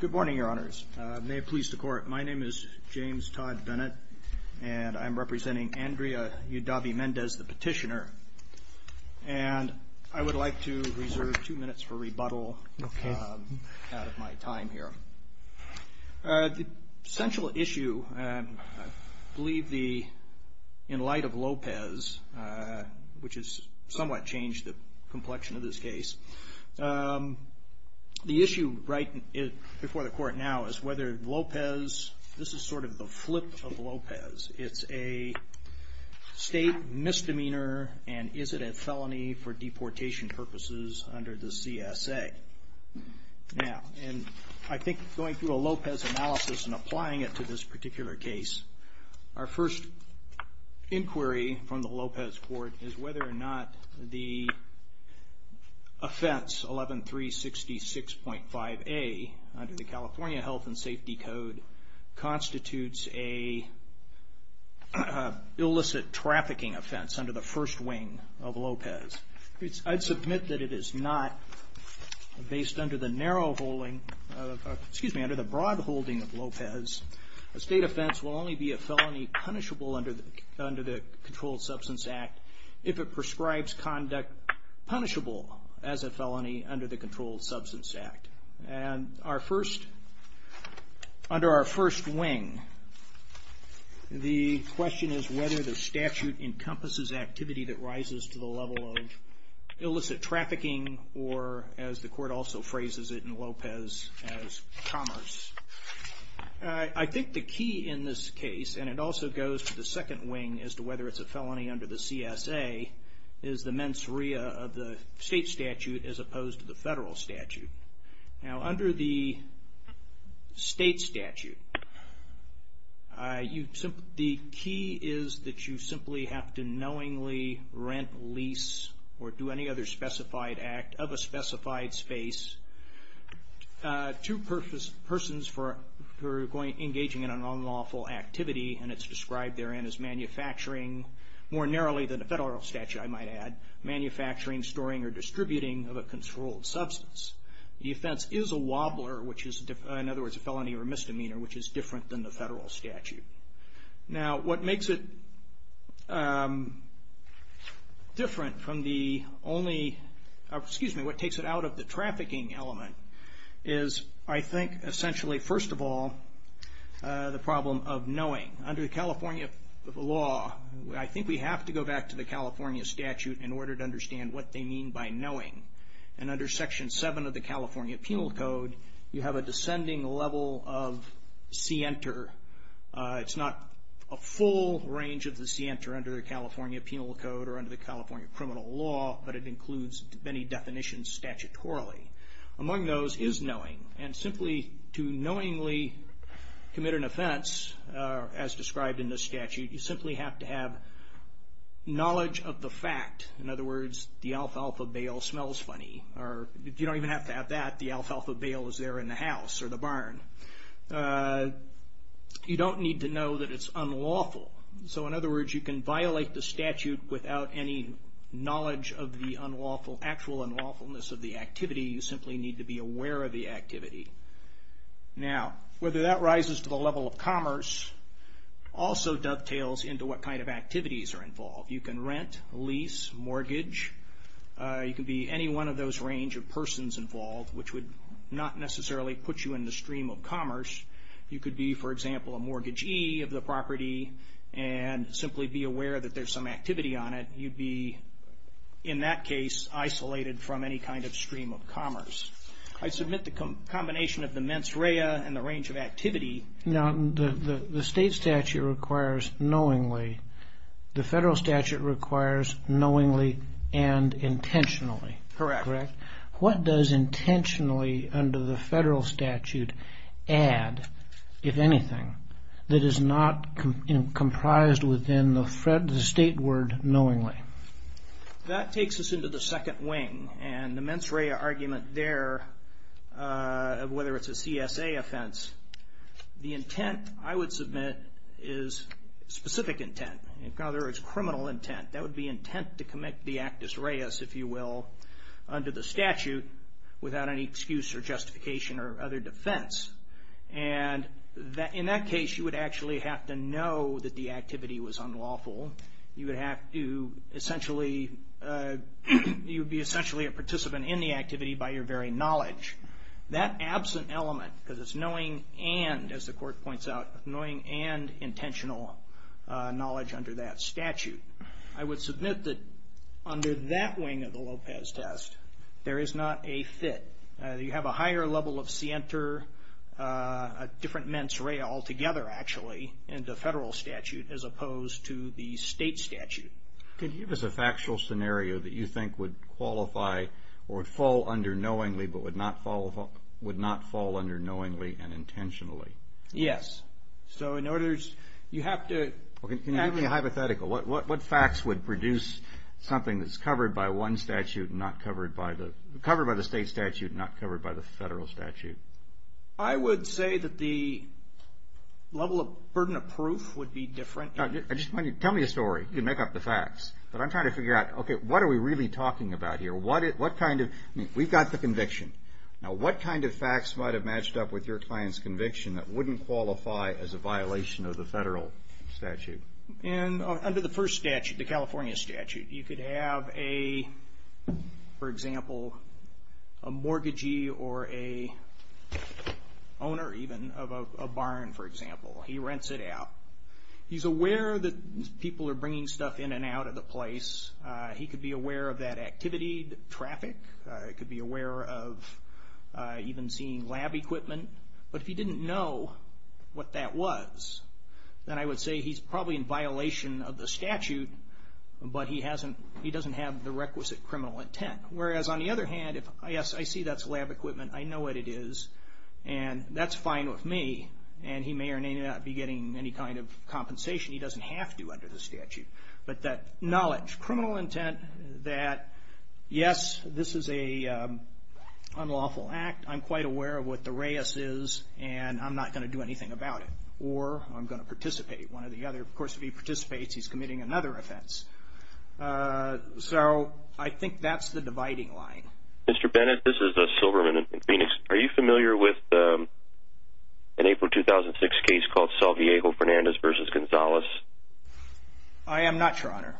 Good morning, your honors. May it please the court, my name is James Todd Bennett, and I'm representing Andrea UDAVE-MENDEZ, the petitioner, and I would like to reserve two minutes for rebuttal out of my time here. The central issue, I believe in light of Lopez, which has somewhat changed the complexion of this case, the issue right before the court now is whether Lopez, this is sort of the flip of Lopez, it's a state misdemeanor and is it a felony for deportation purposes under the CSA. Now, and I think going through a Lopez analysis and applying it to this particular case, our first inquiry from the Lopez court is whether or not the offense 11366.5A under the California Health and Safety Code constitutes a illicit trafficking offense under the first wing of Lopez. I'd submit that it is not based under the narrow holding, excuse me, under the broad holding of Lopez. A state offense will only be a felony punishable under the Controlled Substance Act if it prescribes conduct punishable as a felony under the Controlled Substance Act. And under our first wing, the question is whether the statute encompasses activity that rises to the level of illicit trafficking or, as the court also phrases it in Lopez, as commerce. I think the key in this case, and it also goes to the second wing as to whether it's a felony under the CSA, is the mens rea of the state statute as opposed to the federal statute. Now, under the state statute, the key is that you simply have to knowingly rent, lease, or do any other specified act of a specified space to persons who are engaging in an unlawful activity, and it's described therein as manufacturing, more narrowly than the federal statute, I might add, manufacturing, storing, or distributing of a controlled substance. The offense is a wobbler, which is, in other words, a felony or misdemeanor, which is different than the excuse me, what takes it out of the trafficking element is, I think, essentially, first of all, the problem of knowing. Under the California law, I think we have to go back to the California statute in order to understand what they mean by knowing. And under Section 7 of the California Penal Code, you have a descending level of scienter. It's not a full range of the scienter under the California Penal Code or under the California criminal law, but it includes many definitions statutorily. Among those is knowing, and simply to knowingly commit an offense, as described in the statute, you simply have to have knowledge of the fact. In other words, the alfalfa bale smells funny, or you don't even have to have that. The alfalfa bale is there in the house or the barn. You don't need to know that it's unlawful. So, in other words, you can violate the statute without any knowledge of the actual unlawfulness of the activity. You simply need to be aware of the activity. Now, whether that rises to the level of commerce also dovetails into what kind of activities are involved. You can rent, lease, mortgage. You can be any one of those range of persons involved, which would not necessarily put you in the stream of commerce. You could be, for example, a mortgagee of the property and simply be aware that there's some activity on it. You'd be, in that case, isolated from any kind of stream of commerce. I submit the combination of the mens rea and the range of activity. Now, the state statute requires knowingly. The federal statute requires knowingly and intentionally. Correct. What does intentionally under the federal statute add, if anything, that is not comprised within the state word knowingly? That takes us into the second wing. The mens rea argument there, whether it's a CSA offense, the intent, I would submit, is specific intent. In other words, criminal intent. That would be intent to commit the actus reus, if you will, under the statute without any excuse or justification or other defense. In that case, you would actually have to know that the activity was unlawful. You would be essentially a participant in the activity by your very knowledge. That absent element, because it's knowing and, as the court points out, knowing and intentional knowledge under that statute. I would submit that under that wing of the Lopez test, there is not a fit. You have a higher level of scienter, a different mens rea altogether, actually, in the federal statute as opposed to the state statute. Could you give us a factual scenario that you think would qualify or fall under knowingly Yes. In other words, you have to... Can you give me a hypothetical? What facts would produce something that's covered by one statute and not covered by the state statute and not covered by the federal statute? I would say that the level of burden of proof would be different. Tell me a story. You can make up the facts. I'm trying to figure out, what are we really talking about here? We've got the conviction. What kind of facts might have matched up with your client's conviction that wouldn't qualify as a violation of the federal statute? Under the first statute, the California statute, you could have, for example, a mortgagee or an owner, even, of a barn, for example. He rents it out. He's aware that people are bringing stuff in and out of the place. He could be aware of that activity, the traffic. He could be aware of even seeing lab equipment. But if he didn't know what that was, then I would say he's probably in violation of the statute, but he doesn't have the requisite criminal intent. Whereas, on the other hand, if I see that's lab equipment, I know what it is, and that's fine with me, and he may or may not be getting any kind of compensation. He doesn't have to under the statute. But that knowledge, criminal intent, that, yes, this is an unlawful act. I'm quite aware of what the REIS is, and I'm not going to do anything about it, or I'm going to participate. One or the other. Of course, if he participates, he's committing another offense. So I think that's the dividing line. Mr. Bennett, this is Silverman in Phoenix. Are you familiar with an April 2006 case called El Salvajejo-Fernandez v. Gonzalez? I am not, Your Honor.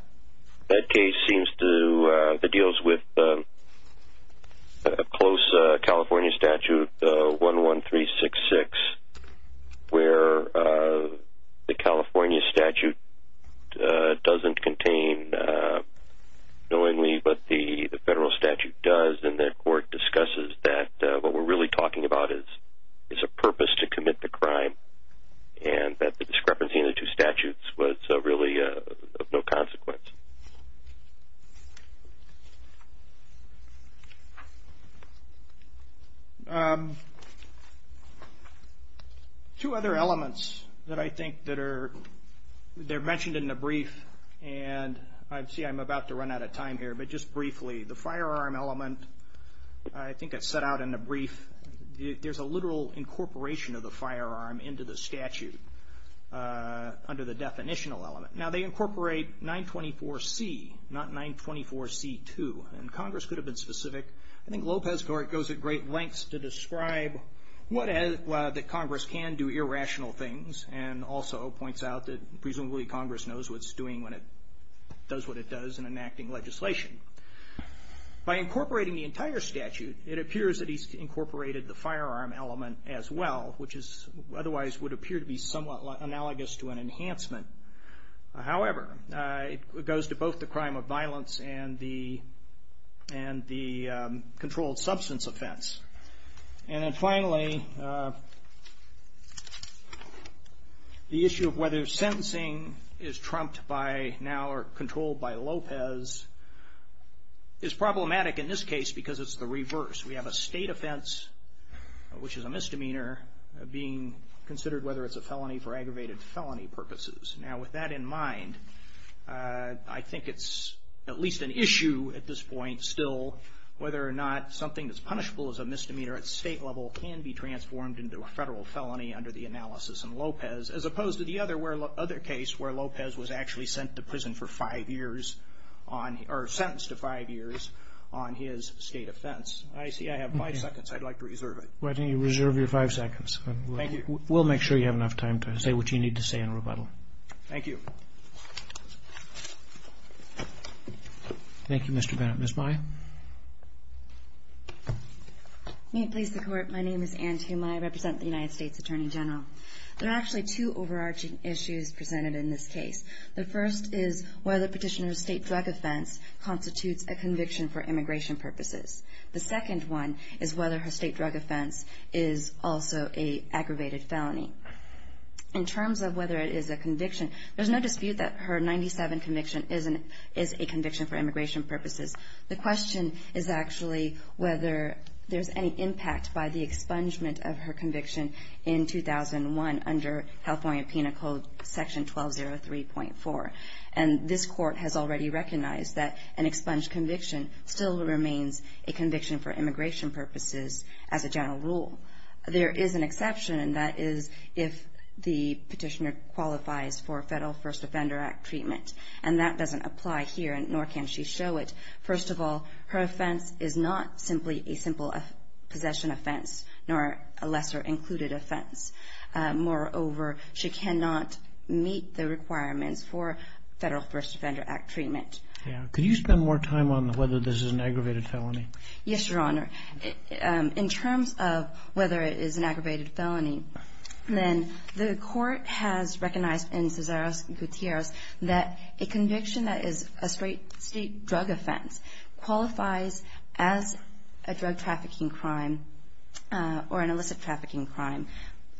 That case seems to, it deals with a close California statute, 11366, where the California statute doesn't contain, knowingly, but the federal statute does, and the court discusses that what we're really talking about is a purpose to commit the crime, and that the discrepancy in the two statutes was really of no consequence. Two other elements that I think that are, they're mentioned in the brief, and I see I'm about to run out of time here, but just briefly, the firearm element, I think it's set out in the brief, there's a literal incorporation of the firearm into the statute under the definitional element. Now, they incorporate 924C, not 924C2, and Congress could have been specific. I think Lopez Court goes at great lengths to describe what, that Congress can do irrational things, and also points out that presumably Congress knows what it's doing when it does what it does in enacting legislation. By incorporating the entire statute, it appears that he's incorporated the firearm element as well, which is, otherwise would appear to be somewhat analogous to an enhancement. However, it goes to both the crime of violence and the controlled substance offense. And then finally, the issue of whether sentencing is trumped by now, or controlled by Lopez, is problematic in this case because it's the reverse. We have a state offense, which is a misdemeanor, being considered whether it's a felony for aggravated felony purposes. Now, with that in mind, I think it's at least an issue at this point still, whether or not something that's punishable as a misdemeanor at state level can be transformed into a federal felony under the analysis in Lopez, as opposed to the other case where Lopez was actually sent to prison for five years, or sentenced to five years, on his state offense. I see I have five seconds. I'd like to reserve it. Why don't you reserve your five seconds. Thank you. We'll make sure you have enough time to say what you need to say in rebuttal. Thank you. Thank you, Mr. Bennett. Ms. Mai? May it please the Court, my name is Anne Tumai. I represent the United States Attorney General. There are actually two overarching issues presented in this case. The first is whether Petitioner's state drug offense constitutes a conviction for immigration purposes. The second one is whether her state drug offense is also an aggravated felony. In terms of whether it is a conviction, there's no dispute that her 97 conviction is a conviction for immigration purposes. The question is actually whether there's any impact by the expungement of her conviction in 2001 under California Penal Code Section 1203.4. And this Court has already recognized that an expunged conviction still remains a conviction for immigration purposes as a general rule. There is an exception, and that is if the Petitioner qualifies for Federal First Offender Act treatment. And that doesn't apply here, nor can she show it. First of all, her offense is not simply a simple possession offense, nor a lesser included offense. Moreover, she cannot meet the requirements for Federal First Offender Act treatment. Yeah. Could you spend more time on whether this is an aggravated felony? Yes, Your Honor. In terms of whether it is an aggravated felony, then the Court has recognized in Cesar Gutierrez that a conviction that is a state drug offense qualifies as a drug trafficking crime, or an illicit trafficking crime,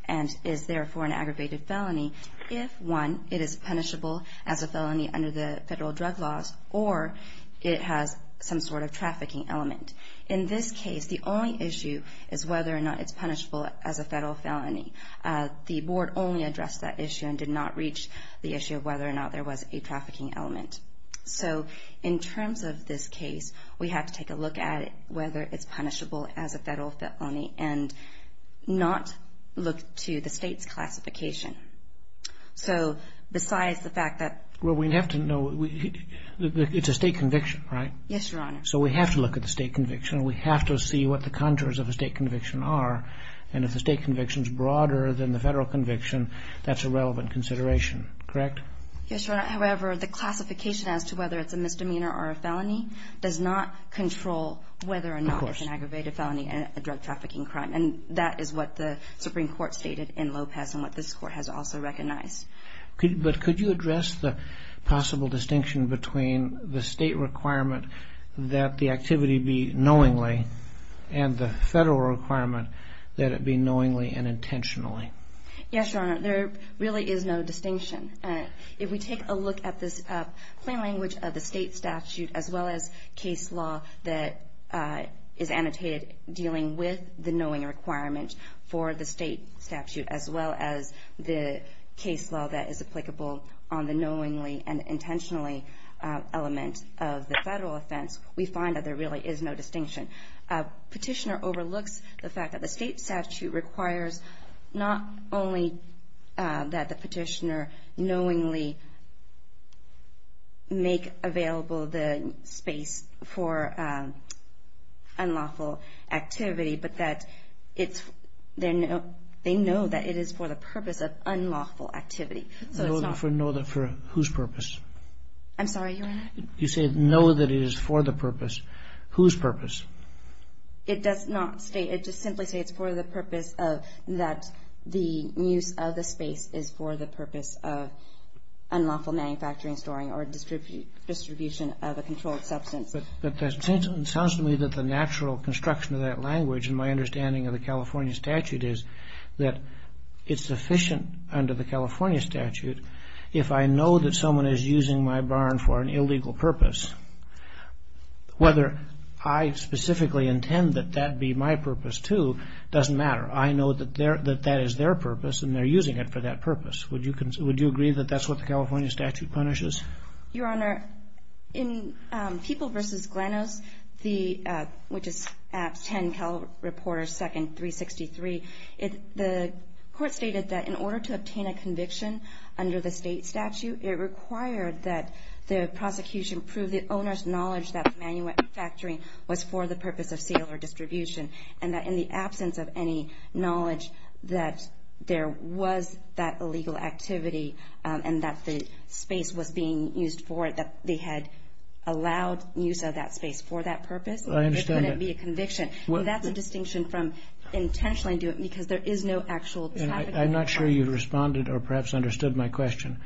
and is therefore an aggravated felony if, one, it is punishable as a felony under the federal drug laws, or it has some sort of trafficking element. In this case, the only issue is whether or not it's punishable as a federal felony. The Board only addressed that issue and did not reach the issue of whether or not there was a trafficking element. So in terms of this case, we have to take a look at whether it's punishable as a federal felony, and not look to the state's classification. So besides the fact that... Well, we'd have to know. It's a state conviction, right? Yes, Your Honor. So we have to look at the state conviction, and we have to see what the contours of a state conviction are, and if the state conviction is broader than the federal conviction, that's a relevant consideration, correct? Yes, Your Honor. However, the classification as to whether it's a misdemeanor or a felony does not control whether or not it's an aggravated felony and a drug trafficking crime, and that is what the Supreme Court stated in Lopez, and what this Court has also recognized. But could you address the possible distinction between the state requirement that the activity be knowingly, and the federal requirement that it be knowingly and intentionally? Yes, Your Honor. There really is no distinction. If we take a look at this plain language of the state statute, as well as case law that is annotated dealing with the knowing requirement for the state statute, as well as the case law that is applicable on the knowingly and intentionally, there really is no distinction. Petitioner overlooks the fact that the state statute requires not only that the petitioner knowingly make available the space for unlawful activity, but that they know that it is for the purpose of unlawful activity. Know that for whose purpose? I'm sorry, Your Honor? You say know that it is for the purpose. Whose purpose? It does not state, it just simply states for the purpose of, that the use of the space is for the purpose of unlawful manufacturing, storing, or distribution of a controlled substance. But it sounds to me that the natural construction of that language, in my understanding of the California statute, is that it's sufficient under the California statute if I know that I'm using my barn for an illegal purpose. Whether I specifically intend that that be my purpose, too, doesn't matter. I know that that is their purpose, and they're using it for that purpose. Would you agree that that's what the California statute punishes? Your Honor, in People v. Glenos, which is 10 Cal Reporter 2nd, 363, the court stated that in order to obtain a conviction under the state statute, it required that the prosecution prove the owner's knowledge that the manufacturing was for the purpose of sale or distribution, and that in the absence of any knowledge that there was that illegal activity, and that the space was being used for it, that they had allowed use of that space for that purpose, it couldn't be a conviction. I understand that. That's a distinction from intentionally do it because there is no actual traffic. I'm not sure you responded or perhaps understood my question.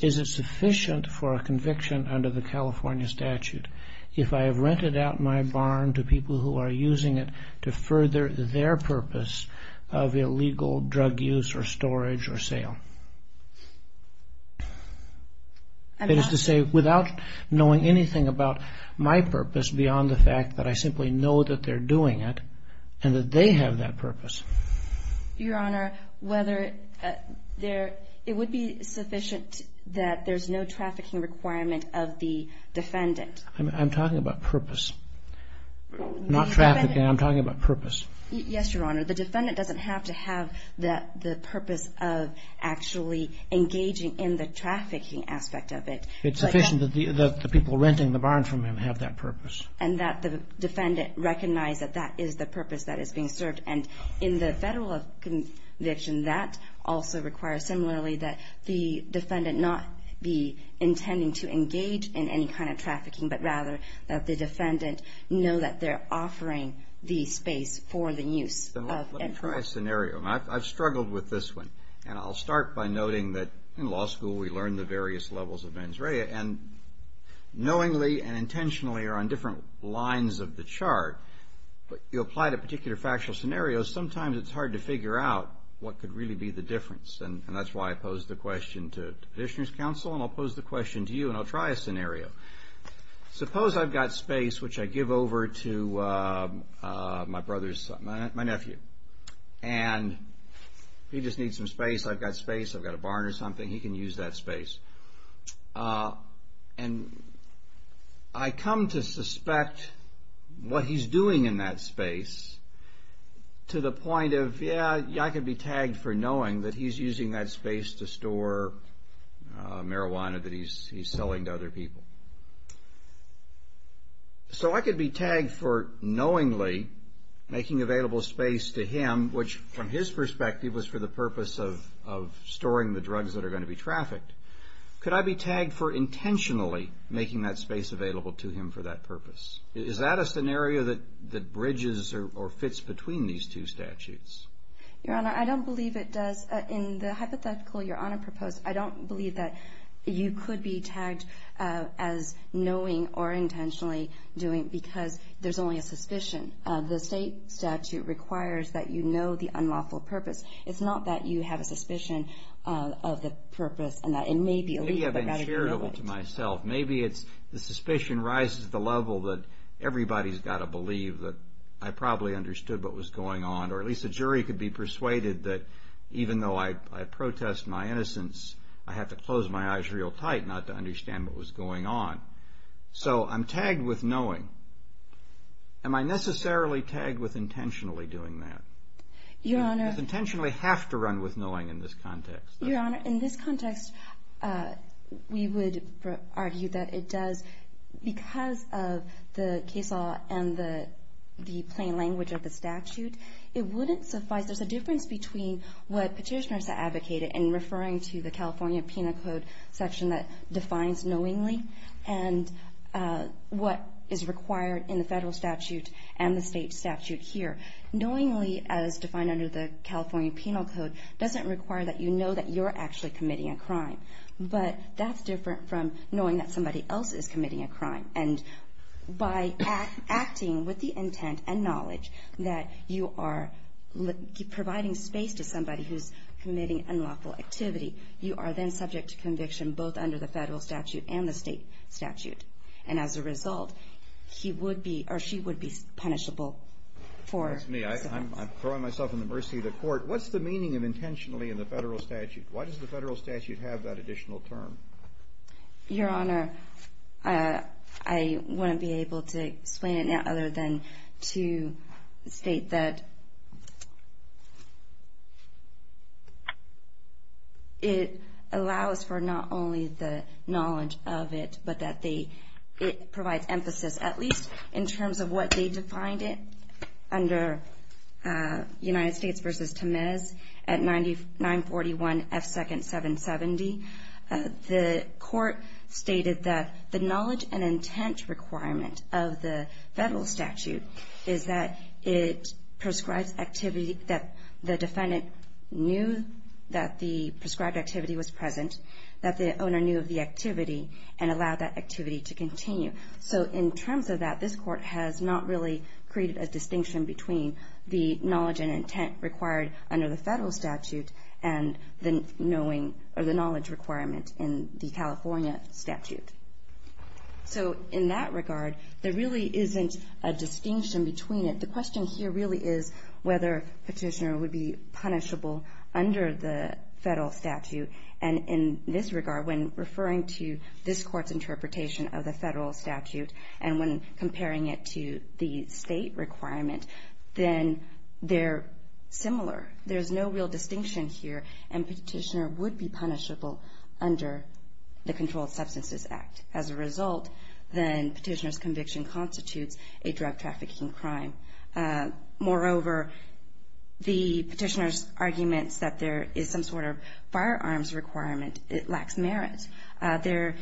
Is it sufficient for a conviction under the California statute if I have rented out my barn to people who are using it to further their purpose of illegal drug use or storage or sale? That is to say, without knowing anything about my purpose beyond the fact that I simply know that they're doing it, and that they have that purpose. Your Honor, whether there, it would be sufficient that there's no trafficking requirement of the defendant. I'm talking about purpose, not trafficking. I'm talking about purpose. Yes, Your Honor. The defendant doesn't have to have the purpose of actually engaging in the trafficking aspect of it. It's sufficient that the people renting the barn from him have that purpose. And that the defendant recognize that that is the purpose that is being served. And in the federal conviction, that also requires, similarly, that the defendant not be intending to engage in any kind of trafficking, but rather that the defendant know that they're offering the space for the use of it. Let me try a scenario. I've struggled with this one. And I'll start by noting that in law school we learn the various levels of mens rea. And knowingly and intentionally are on different lines of the chart. But you apply it to particular factual scenarios, sometimes it's hard to figure out what could really be the difference. And that's why I posed the question to the petitioner's counsel, and I'll pose the question to you, and I'll try a scenario. Suppose I've got space, which I give over to my brother's, my nephew. And he just needs some space. I've got space. I've got a barn or something. He can use that space. And I come to suspect what he's doing in that space to the point of, yeah, I could be tagged for knowing that he's using that space to store marijuana that he's selling to other people. So I could be tagged for knowingly making available space to him, which from his perspective was for the purpose of storing the drugs that are going to be trafficked. Could I be tagged for intentionally making that space available to him for that purpose? Is that a scenario that bridges or fits between these two statutes? Your Honor, I don't believe it does. In the hypothetical Your Honor proposed, I don't believe that you could be tagged as knowing or intentionally doing because there's only a suspicion. The state statute requires that you know the unlawful purpose. It's not that you have a suspicion of the purpose and that it may be illegal, but rather you know it. Maybe I've been charitable to myself. Maybe it's the suspicion rises to the level that everybody's got to believe that I probably understood what was going on, or at least a jury could be persuaded that even though I protest my innocence, I have to close my eyes real tight not to understand what was going on. So I'm tagged with knowing. Am I necessarily tagged with intentionally doing that? Your Honor. Do I intentionally have to run with knowing in this context? Your Honor, in this context, we would argue that it does because of the case law and the plain language of the statute. It wouldn't suffice. There's a difference between what petitioners have advocated in referring to the California Penal Code section that defines knowingly and what is required in the federal statute and the state statute here. Knowingly, as defined under the California Penal Code, doesn't require that you know that you're actually committing a crime. But that's different from knowing that somebody else is committing a crime. And by acting with the intent and knowledge that you are providing space to somebody who's committing unlawful activity, you are then subject to conviction both under the federal statute and the state statute. And as a result, he would be, or she would be, punishable for... That's me. I'm throwing myself in the mercy of the court. What's the meaning of intentionally in the federal statute? Why does the federal statute have that additional term? Your Honor, I wouldn't be able to explain it now other than to state that it allows for not only the knowledge of it, but that it provides emphasis at least in terms of what they defined it under United States v. Temez at 941 F. 2nd. 770. The court stated that the knowledge and intent requirement of the federal statute is that it prescribes activity that the defendant knew that the prescribed activity was present, that the owner knew of the activity, and allowed that activity to continue. So in terms of that, this court has not really created a distinction between the knowledge and intent required under the federal statute and the knowledge requirement in the California statute. So in that regard, there really isn't a distinction between it. The question here really is whether Petitioner would be punishable under the federal statute. And in this regard, when referring to this court's interpretation of the federal statute and when comparing it to the state requirement, then they're similar. There's no real distinction here, and Petitioner would be punishable under the Controlled Substances Act. As a result, then Petitioner's conviction constitutes a drug trafficking crime. Moreover, the Petitioner's argument that there is some sort of firearms requirement lacks merit. There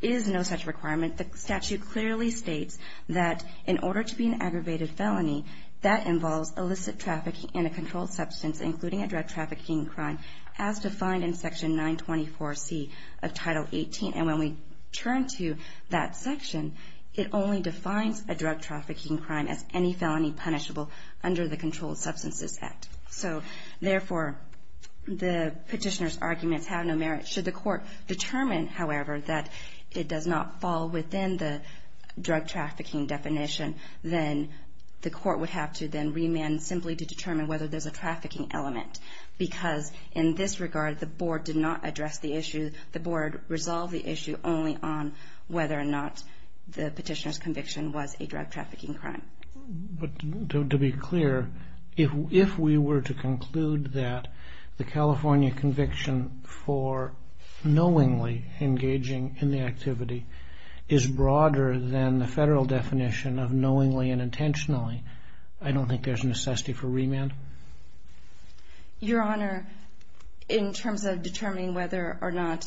is no such requirement. The statute clearly states that in order to be an aggravated felony, that involves illicit trafficking in a controlled substance, including a drug trafficking crime, as defined in Section 924C of Title 18. And when we turn to that section, it only defines a drug trafficking crime as any felony punishable under the Controlled Substances Act. So therefore, the Petitioner's arguments have no merit. Should the court determine, however, that it does not fall within the drug trafficking definition, then the court would have to then remand simply to determine whether there's a trafficking element. Because in this regard, the Board did not address the issue. The Board resolved the issue only on whether or not the Petitioner's conviction was a drug trafficking crime. To be clear, if we were to conclude that the California conviction for knowingly engaging in the activity is broader than the federal definition of knowingly and intentionally, I don't think there's necessity for remand? Your Honor, in terms of determining whether or not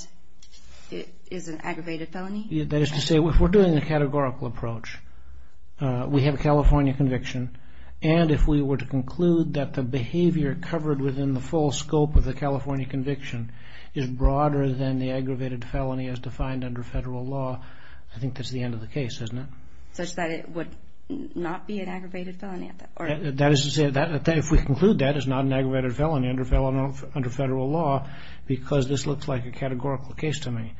it is an aggravated felony? That is to say, if we're doing a categorical approach, we have a California conviction, and if we were to conclude that the behavior covered within the full scope of the California conviction is broader than the aggravated felony as defined under federal law, I think that's the end of the case, isn't it? Such that it would not be an aggravated felony? That is to say, if we conclude that it's not an aggravated felony under federal law, because this looks like a categorical case to me.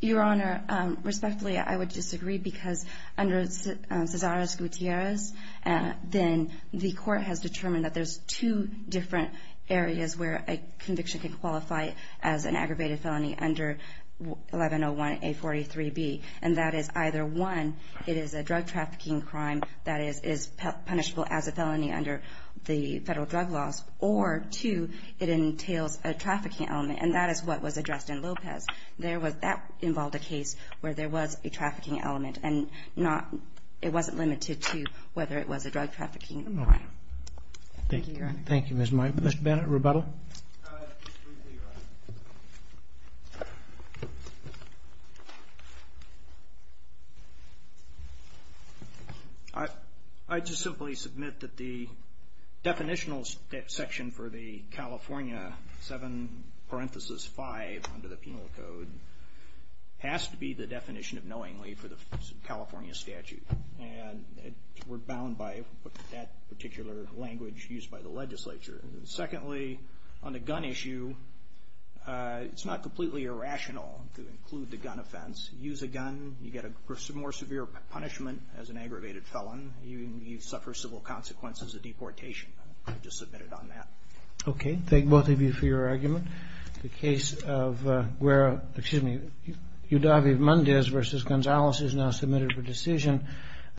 Your Honor, respectfully, I would disagree because under Cesare's Gutierrez, then the court has determined that there's two different areas where a conviction can qualify as an aggravated felony. One is a drug trafficking crime that is punishable as a felony under the federal drug laws, or two, it entails a trafficking element, and that is what was addressed in Lopez. That involved a case where there was a trafficking element, and it wasn't limited to whether it was a drug trafficking crime. Thank you, Your Honor. Thank you, Ms. Mike. Mr. Bennett, rebuttal? I just simply submit that the definitional section for the California 7 parenthesis 5 under the Penal Code has to be the definition of knowingly for the California statute, and we're bound by that particular language used by the legislature. Secondly, on the gun issue, it's not completely irrational to include the gun offense. Use a gun, you get a more severe punishment as an aggravated felon, you suffer civil consequences of deportation. I just submit it on that. Okay. Thank both of you for your argument. The case of Guerra, excuse me, Udavi-Mendez v. Gonzalez is now submitted for decision.